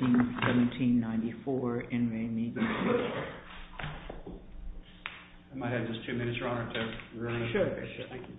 1794 N. Ray Media Queue. I might have just two minutes, Your Honor, to run through it. Sure, sure. Thank you. Thank you, Your Honor. Thank you, Your Honor.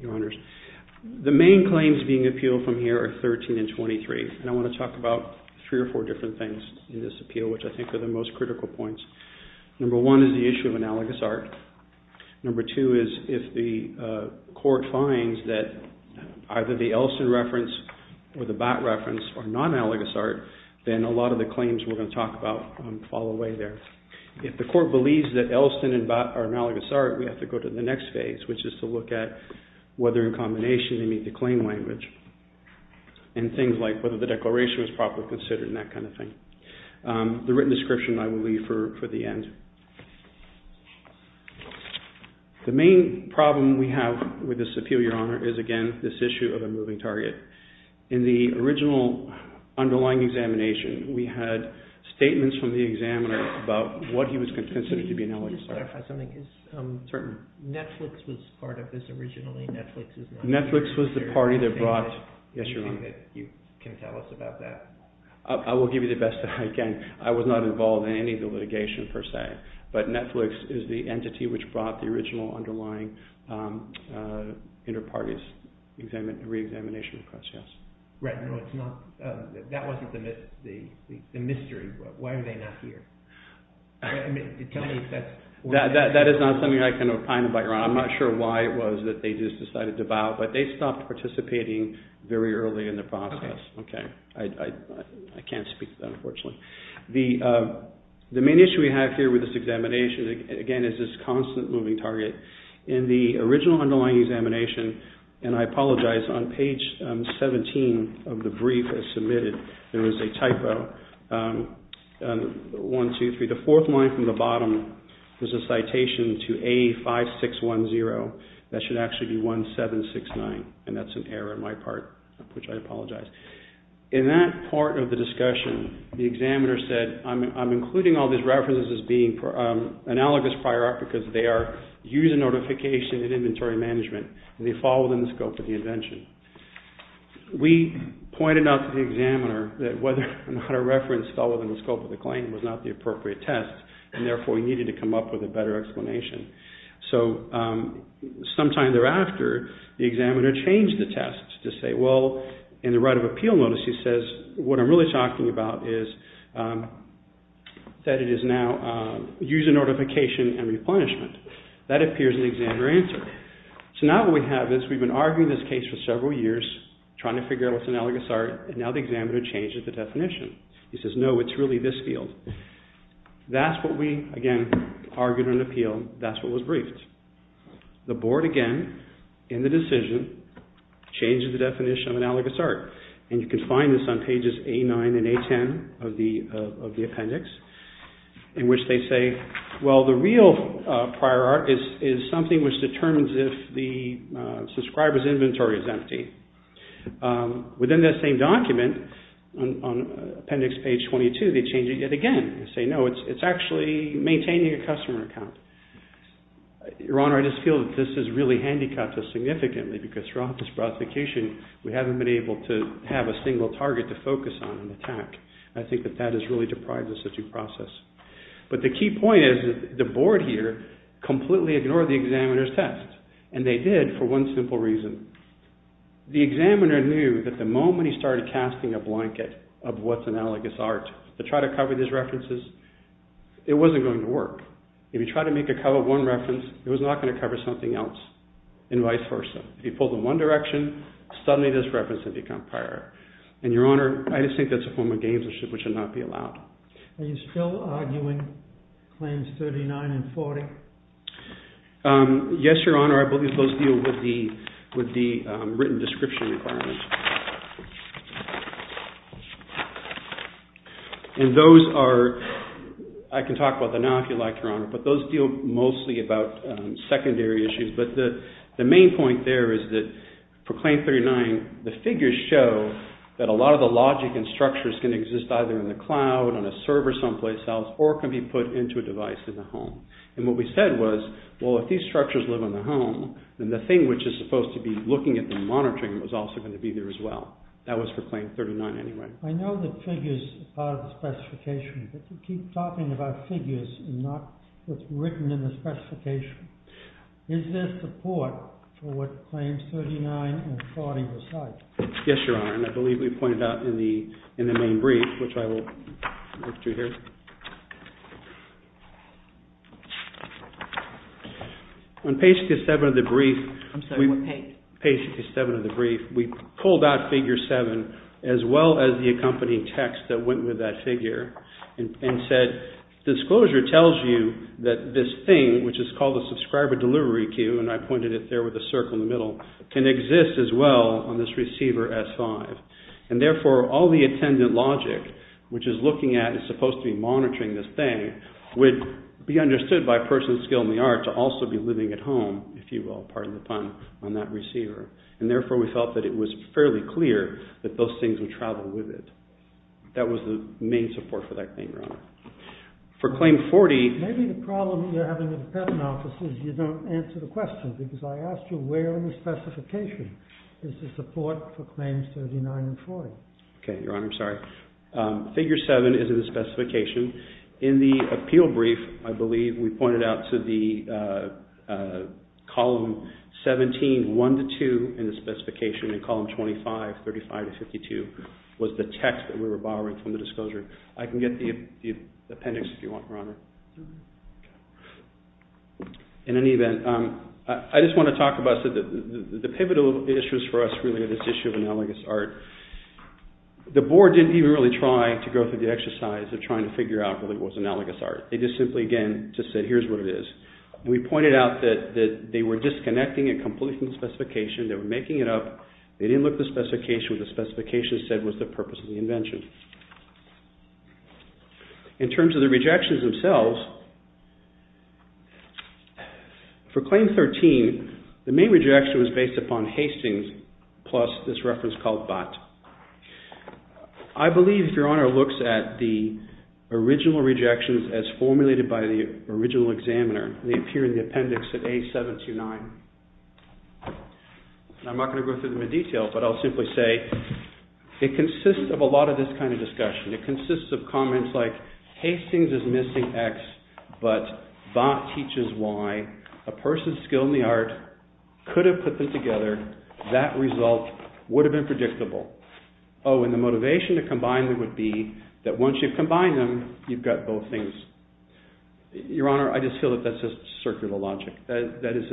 Your Honors, the main claims being appealed from here are 13 and 23, and I want to talk about three or four different things in this appeal, which I think are the most critical points. Number one is the issue of analogous art. Number two is if the court finds that either the Elston reference or the Batt reference are non-analogous art, then a lot of the claims we're going to talk about fall away there. If the court believes that Elston and Batt are analogous art, we have to go to the next phase, which is to look at whether in combination they meet the claim language, and things like that, whether the declaration was properly considered, and that kind of thing. The written description I will leave for the end. The main problem we have with this appeal, Your Honor, is again this issue of a moving target. In the original underlying examination, we had statements from the examiner about what he was considering to be analogous art. Can you just clarify something? Certainly. Netflix was part of this originally. Netflix was the party that brought… Yes, Your Honor. Is there anything that you can tell us about that? I will give you the best that I can. I was not involved in any of the litigation per se, but Netflix is the entity which brought the original underlying inter-parties re-examination request, yes. Right. No, it's not. That wasn't the mystery. Why are they not here? Tell me if that's… That is not something I can kind of bite around. I'm not sure why it was that they just decided to bow, but they stopped participating very early in the process. Okay. Okay. I can't speak to that, unfortunately. The main issue we have here with this examination, again, is this constant moving target. In the original underlying examination, and I apologize, on page 17 of the brief as submitted, there is a typo, 1, 2, 3. The fourth line from the bottom is a citation to A5610. That should actually be 1769, and that's an error on my part, which I apologize. In that part of the discussion, the examiner said, I'm including all these references as being analogous prior art because they are user notification and inventory management and they fall within the scope of the invention. We pointed out to the examiner that whether or not a reference fell within the scope of the claim was not the appropriate test, and therefore, we needed to come up with a better explanation. Sometime thereafter, the examiner changed the test to say, well, in the right of appeal notice, he says, what I'm really talking about is that it is now user notification and replenishment. That appears in the examiner answer. Now, what we have is we've been arguing this case for several years, trying to figure out what's analogous art, and now the examiner changes the definition. He says, no, it's really this field. That's what we, again, argued on appeal, that's what was briefed. The board, again, in the decision, changes the definition of analogous art, and you can find this on pages 89 and 80 of the appendix, in which they say, well, the real prior art is something which determines if the subscriber's inventory is empty. Within that same document, on appendix page 22, they change it yet again, and say, no, it's actually maintaining a customer account. Your Honor, I just feel that this has really handicapped us significantly because throughout this prosecution, we haven't been able to have a single target to focus on and attack. I think that that has really deprived us of due process. But the key point is that the board here completely ignored the examiner's test, and they did it for one simple reason. The examiner knew that the moment he started casting a blanket of what's analogous art to try to cover these references, it wasn't going to work. If you try to make a cover of one reference, it was not going to cover something else, and vice versa. If you pull them one direction, suddenly this reference would become prior art. And Your Honor, I just think that's a form of gamesmanship which should not be allowed. Are you still arguing claims 39 and 40? Yes, Your Honor, I believe those deal with the written description requirements. And those are, I can talk about them now if you like, Your Honor, but those deal mostly about secondary issues. But the main point there is that for claim 39, the figures show that a lot of the logic and structures can exist either in the cloud, on a server someplace else, or can be put into a device in the home. And what we said was, well, if these structures live in the home, then the thing which is supposed to be looking at and monitoring was also going to be there as well. That was for claim 39 anyway. I know that figures are part of the specification, but you keep talking about figures and not what's written in the specification. Is there support for what claims 39 and 40 recite? Yes, Your Honor. And I believe we pointed out in the main brief, which I will move to here. On page 57 of the brief, we pulled out figure 7 as well as the accompanying text that went with that figure and said, disclosure tells you that this thing, which is called a subscriber delivery queue, and I pointed it there with a circle in the middle, can exist as well on this receiver S5. And therefore, all the attendant logic, which is looking at, is supposed to be monitoring this thing, would be understood by a person skilled in the art to also be living at home, if you will, pardon the pun, on that receiver. And therefore, we felt that it was fairly clear that those things would travel with it. That was the main support for that claim, Your Honor. For claim 40… Maybe the problem you're having in the Department of Justice is you don't answer the question, because I asked you where in the specification is the support for claims 39 and 40. Okay, Your Honor, I'm sorry. Figure 7 is in the specification. In the appeal brief, I believe we pointed out to the column 17, 1 to 2 in the specification, and column 25, 35 to 52, was the text that we were borrowing from the disclosure. In any event, I just want to talk about the pivotal issues for us, really, on this issue of analogous art. The board didn't even really try to go through the exercise of trying to figure out what it was analogous art. They just simply, again, just said, here's what it is. We pointed out that they were disconnecting it completely from the specification, they were making it up, they didn't look at the specification, what the specification said was the purpose of the invention. In terms of the rejections themselves, for claim 13, the main rejection was based upon Hastings plus this reference called Bott. I believe, Your Honor, looks at the original rejections as formulated by the original examiner, and they appear in the appendix at A729, and I'm not going to go through them in detail, but I'll simply say, it consists of a lot of this kind of discussion, it consists of comments like, Hastings is missing X, but Bott teaches Y, a person skilled in the art could have put them together, that result would have been predictable. Oh, and the motivation to combine them would be that once you've combined them, you've got both things. Your Honor, I just feel that that's just circular logic, that is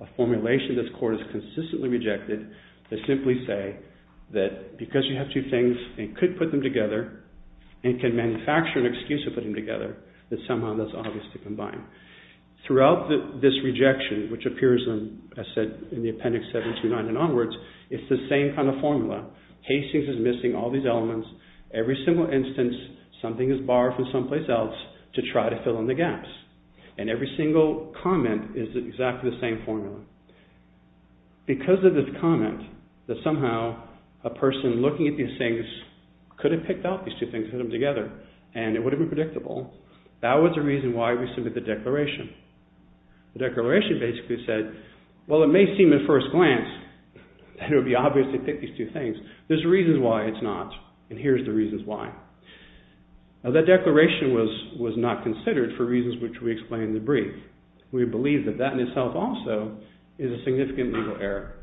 a formulation this Court has to say, that because you have two things and could put them together, and can manufacture an excuse to put them together, that somehow that's obvious to combine. Throughout this rejection, which appears in the appendix A729 and onwards, it's the same kind of formula, Hastings is missing all these elements, every single instance, something is borrowed from someplace else to try to fill in the gaps, and every single comment is exactly the same formula. Because of this comment, that somehow a person looking at these things could have picked out these two things and put them together, and it would have been predictable, that was the reason why we submitted the declaration. The declaration basically said, well it may seem at first glance that it would be obvious to pick these two things, there's reasons why it's not, and here's the reasons why. That declaration was not considered for reasons which we explain in the brief. We believe that that in itself also is a significant legal error.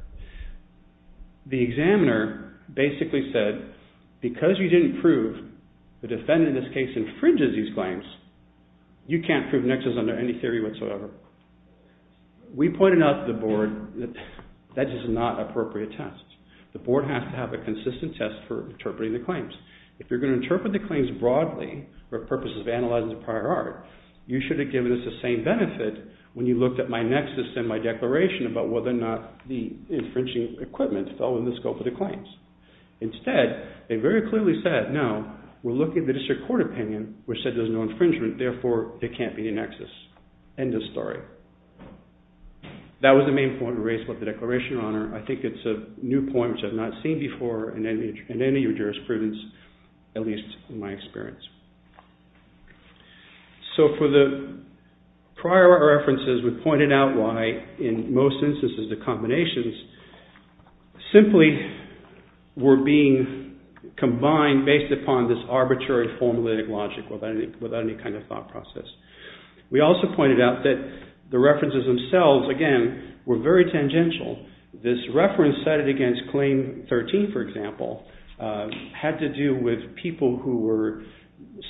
The examiner basically said, because you didn't prove the defendant in this case infringes these claims, you can't prove Nexus under any theory whatsoever. We pointed out to the Board that that is not an appropriate test. The Board has to have a consistent test for interpreting the claims. If you're going to interpret the claims broadly for purposes of analyzing the prior art, you should have given us the same benefit when you looked at my Nexus and my declaration about whether or not the infringing equipment fell in the scope of the claims. Instead, they very clearly said, no, we're looking at the district court opinion, which said there's no infringement, therefore there can't be a Nexus, end of story. That was the main point we raised about the declaration of honor. I think it's a new point which I've not seen before in any of your jurisprudence, at least in my experience. So, for the prior art references, we pointed out why, in most instances, the combinations simply were being combined based upon this arbitrary formulaic logic without any kind of thought process. We also pointed out that the references themselves, again, were very tangential. This reference cited against Claim 13, for example, had to do with people who were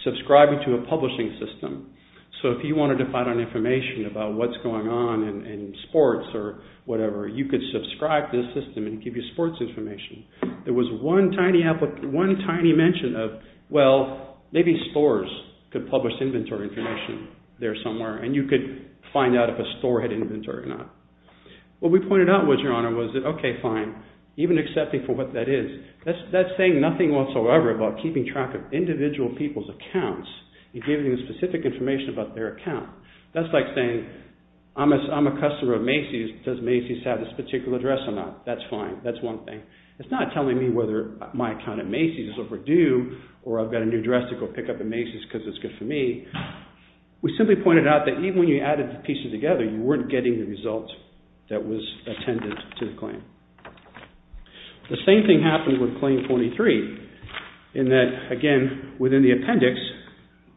subscribing to a publishing system. So, if you wanted to find out information about what's going on in sports or whatever, you could subscribe to this system and it would give you sports information. There was one tiny mention of, well, maybe stores could publish inventory information there somewhere and you could find out if a store had inventory or not. What we pointed out was, Your Honor, was that, okay, fine, even accepting for what that is, that's saying nothing whatsoever about keeping track of individual people's accounts and giving them specific information about their account. That's like saying, I'm a customer of Macy's, does Macy's have this particular dress or not? That's fine, that's one thing. It's not telling me whether my account at Macy's is overdue or I've got a new dress to go pick up at Macy's because it's good for me. We simply pointed out that even when you added the pieces together, you weren't getting the result that was attended to the claim. The same thing happened with Claim 43 in that, again, within the appendix,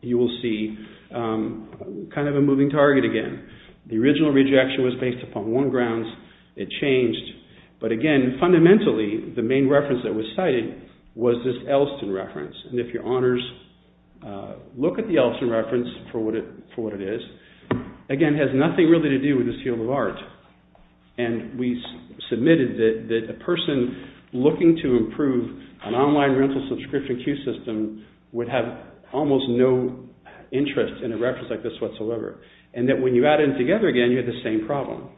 you will see kind of a moving target again. The original rejection was based upon one grounds. It changed. But again, fundamentally, the main reference that was cited was this Elston reference and if Your Honors look at the Elston reference for what it is, again, it has nothing really to do with this field of art and we submitted that a person looking to improve an online rental subscription queue system would have almost no interest in a reference like this whatsoever and that when you add it together again, you have the same problem.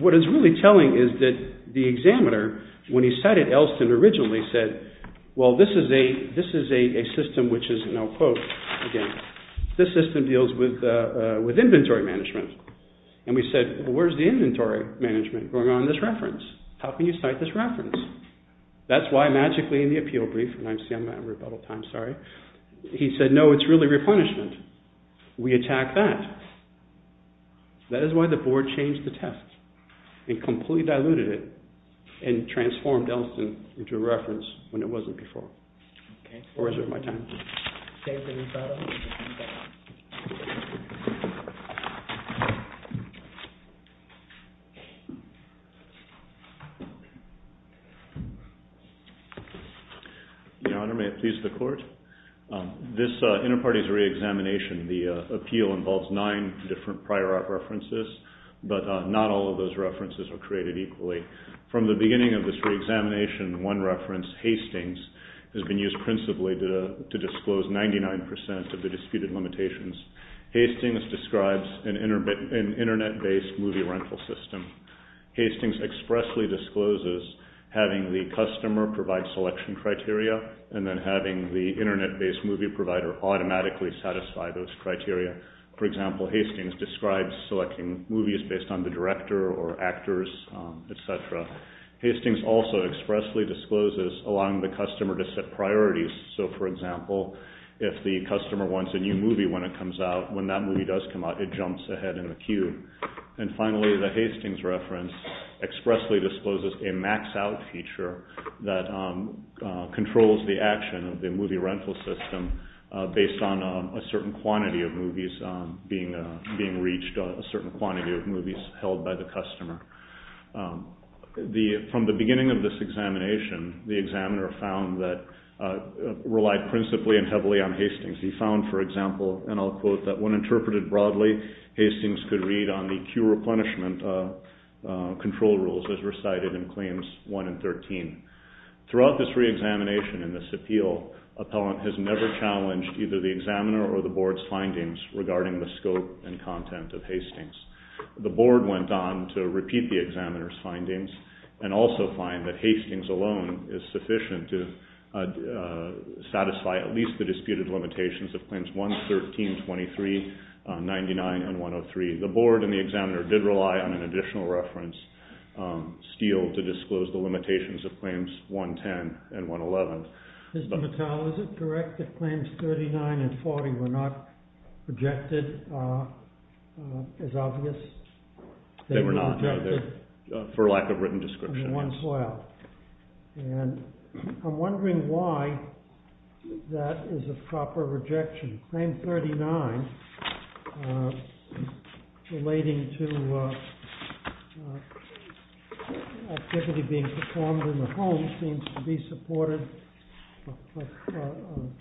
What it's really telling is that the examiner, when he cited Elston originally, said, well, this is a system which is, and I'll quote again. This system deals with inventory management and we said, well, where's the inventory management going on in this reference? How can you cite this reference? That's why magically in the appeal brief, I'm sorry, he said, no, it's really replenishment. We attack that. That is why the board changed the test and completely diluted it and transformed Elston into a reference when it wasn't before. Okay. Or is it my time? Dave, can you start us off? Your Honor, may it please the Court? This inter-parties re-examination, the appeal involves nine different prior art references, but not all of those references were created equally. From the beginning of this re-examination, one reference, Hastings, has been used principally to disclose 99% of the disputed limitations. Hastings describes an internet-based movie rental system. Hastings expressly discloses having the customer provide selection criteria and then having the internet-based movie provider automatically satisfy those criteria. For example, Hastings describes selecting movies based on the director or actors, etc. Hastings also expressly discloses allowing the customer to set priorities. So for example, if the customer wants a new movie when it comes out, when that movie does come out, it jumps ahead in the queue. And finally, the Hastings reference expressly discloses a max-out feature that controls the action of the movie rental system based on a certain quantity of movies being reached, a certain quantity of movies held by the customer. From the beginning of this examination, the examiner found that, relied principally and heavily on Hastings, he found, for example, and I'll quote, that when interpreted broadly, Hastings could read on the queue replenishment control rules as recited in claims 1 and 13. Throughout this re-examination and this appeal, appellant has never challenged either the examiner or the board's findings regarding the scope and content of Hastings. The board went on to repeat the examiner's findings and also find that Hastings alone is sufficient to satisfy at least the disputed limitations of claims 1, 13, 23, 99, and 103. The board and the examiner did rely on an additional reference, Steele, to disclose the limitations of claims 1, 10, and 1, 11. Mr. Mattel, is it correct that claims 39 and 40 were not rejected as obvious? They were not, for lack of written description. And I'm wondering why that is a proper rejection. Claim 39, relating to activity being performed in the home, seems to be supported.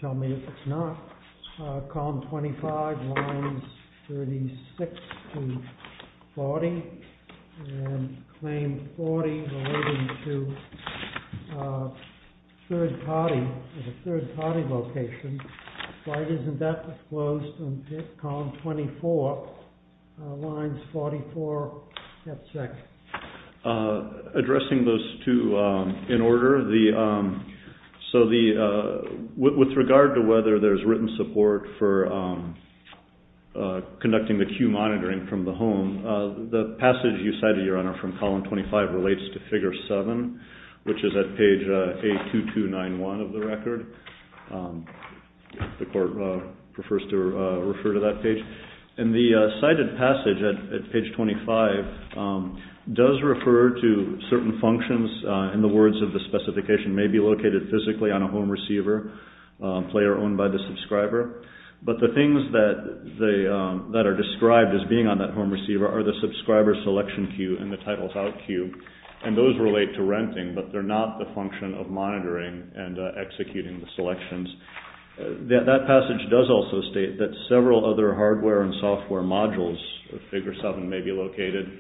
Tell me if it's not. Column 25, lines 36 to 40. And claim 40, relating to third party, as a third party location, why it isn't set, disclosed, and picked. Column 24, lines 44, that's it. Addressing those two in order, so with regard to whether there's written support for conducting the queue monitoring from the home, the passage you cited, Your Honor, from column 25 relates to figure 7, which is at page 82291 of the record. The court prefers to refer to that page. And the cited passage at page 25 does refer to certain functions, in the words of the specification, may be located physically on a home receiver, player owned by the subscriber. But the things that are described as being on that home receiver are the subscriber selection queue and the titles out queue, and those relate to renting, but they're not the function of monitoring and executing the selections. That passage does also state that several other hardware and software modules of figure 7 may be located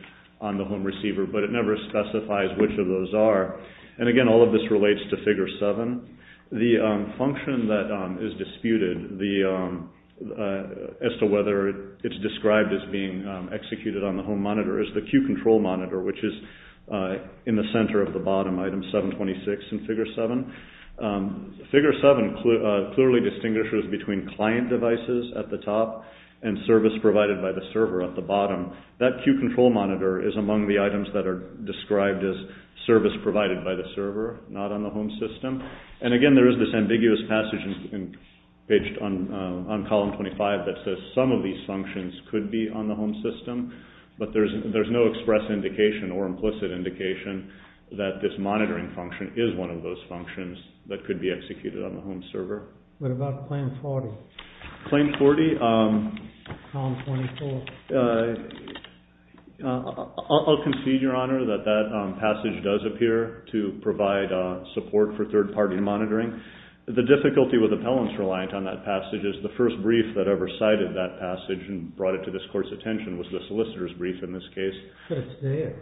on the home receiver, but it never specifies which of those are. And again, all of this relates to figure 7. The function that is disputed as to whether it's described as being executed on the home monitor, which is in the center of the bottom item 726 in figure 7, figure 7 clearly distinguishes between client devices at the top and service provided by the server at the bottom. That queue control monitor is among the items that are described as service provided by the server, not on the home system. And again, there is this ambiguous passage on column 25 that says some of these functions could be on the home system, but there's no express indication or implicit indication that this monitoring function is one of those functions that could be executed on the home server. What about claim 40? Claim 40? Column 24. I'll concede, Your Honor, that that passage does appear to provide support for third party monitoring. The difficulty with appellants reliant on that passage is the first brief that ever provided that passage and brought it to this court's attention was the solicitor's brief in this case. But it's there.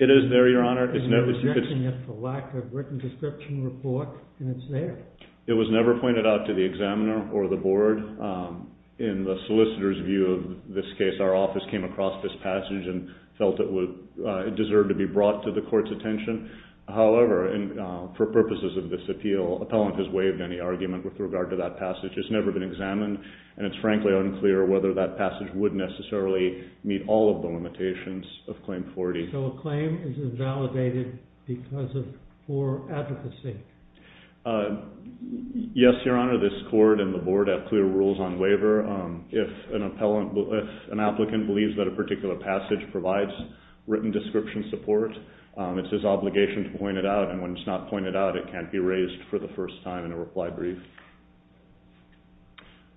It is there, Your Honor. There's no objection. It's a lack of written description report, and it's there. It was never pointed out to the examiner or the board. In the solicitor's view of this case, our office came across this passage and felt it deserved to be brought to the court's attention. However, for purposes of this appeal, appellant has waived any argument with regard to that passage. It's never been examined, and it's frankly unclear whether that passage would necessarily meet all of the limitations of claim 40. So a claim is invalidated because of poor advocacy? Yes, Your Honor. This court and the board have clear rules on waiver. If an applicant believes that a particular passage provides written description support, it's his obligation to point it out, and when it's not pointed out, it can't be raised for the first time in a reply brief.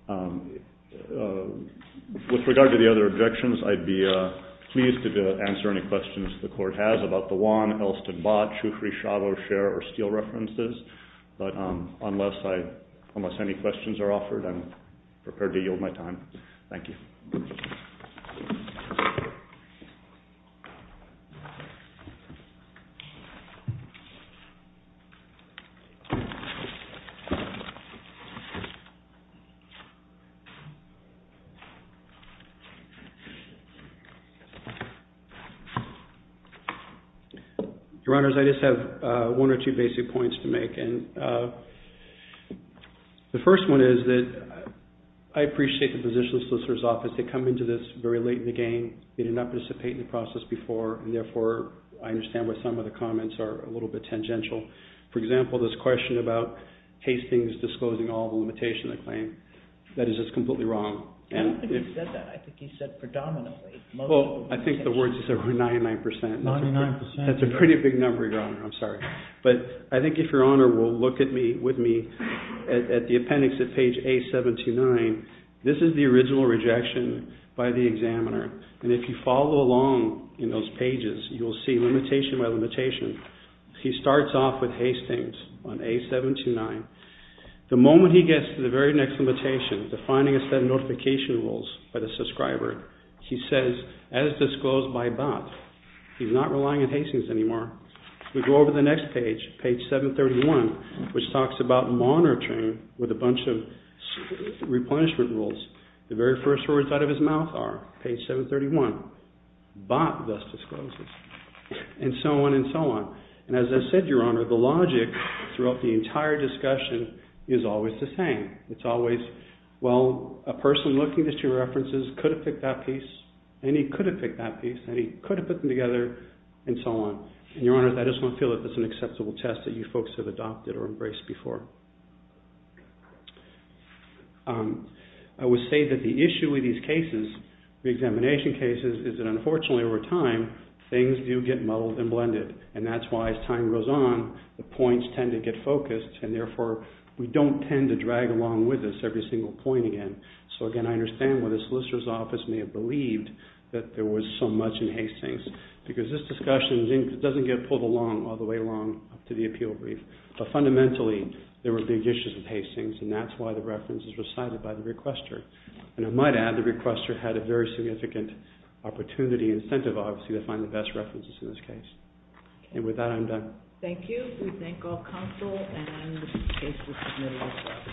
With regard to the other objections, I'd be pleased to answer any questions the court has about the Juan, Elston, Bott, Shufri, Shavo, Scher, or Steele references. But unless any questions are offered, I'm prepared to yield my time. Thank you. Your Honors, I just have one or two basic points to make, and the first one is that I appreciate the position of the solicitor's office. They come into this very late in the game. They did not participate in the process before, and therefore, I understand why some of the comments are a little bit tangential. For example, this question about Hastings disclosing all the limitations of the claim, that is just completely wrong. I don't think he said that. I think he said predominantly. Well, I think the words he said were 99%. 99%. That's a pretty big number, Your Honor. I'm sorry. But I think if Your Honor will look with me at the appendix at page A-79, this is the original rejection by the examiner, and if you follow along in those pages, you'll see limitation by limitation. He starts off with Hastings on A-729. The moment he gets to the very next limitation, defining a set of notification rules by the subscriber, he says, as disclosed by Bott, he's not relying on Hastings anymore. We go over to the next page, page 731, which talks about monitoring with a bunch of replenishment rules. The very first words out of his mouth are, page 731, Bott thus discloses, and so on and so on. And as I said, Your Honor, the logic throughout the entire discussion is always the same. It's always, well, a person looking at your references could have picked that piece, and he could have picked that piece, and he could have put them together, and so on. And Your Honor, I just don't feel that that's an acceptable test that you folks have adopted or embraced before. I would say that the issue with these cases, the examination cases, is that unfortunately over time, things do get muddled and blended, and that's why as time goes on, the points tend to get focused, and therefore, we don't tend to drag along with us every single point again. So again, I understand why the solicitor's office may have believed that there was so much in Hastings, because this discussion doesn't get pulled along all the way along to the appeal brief. But fundamentally, there were big issues with Hastings, and that's why the references were cited by the requester. And I might add, the requester had a very significant opportunity incentive, obviously, to find the best references in this case. And with that, I'm done. Thank you. We thank all counsel and the case was submitted.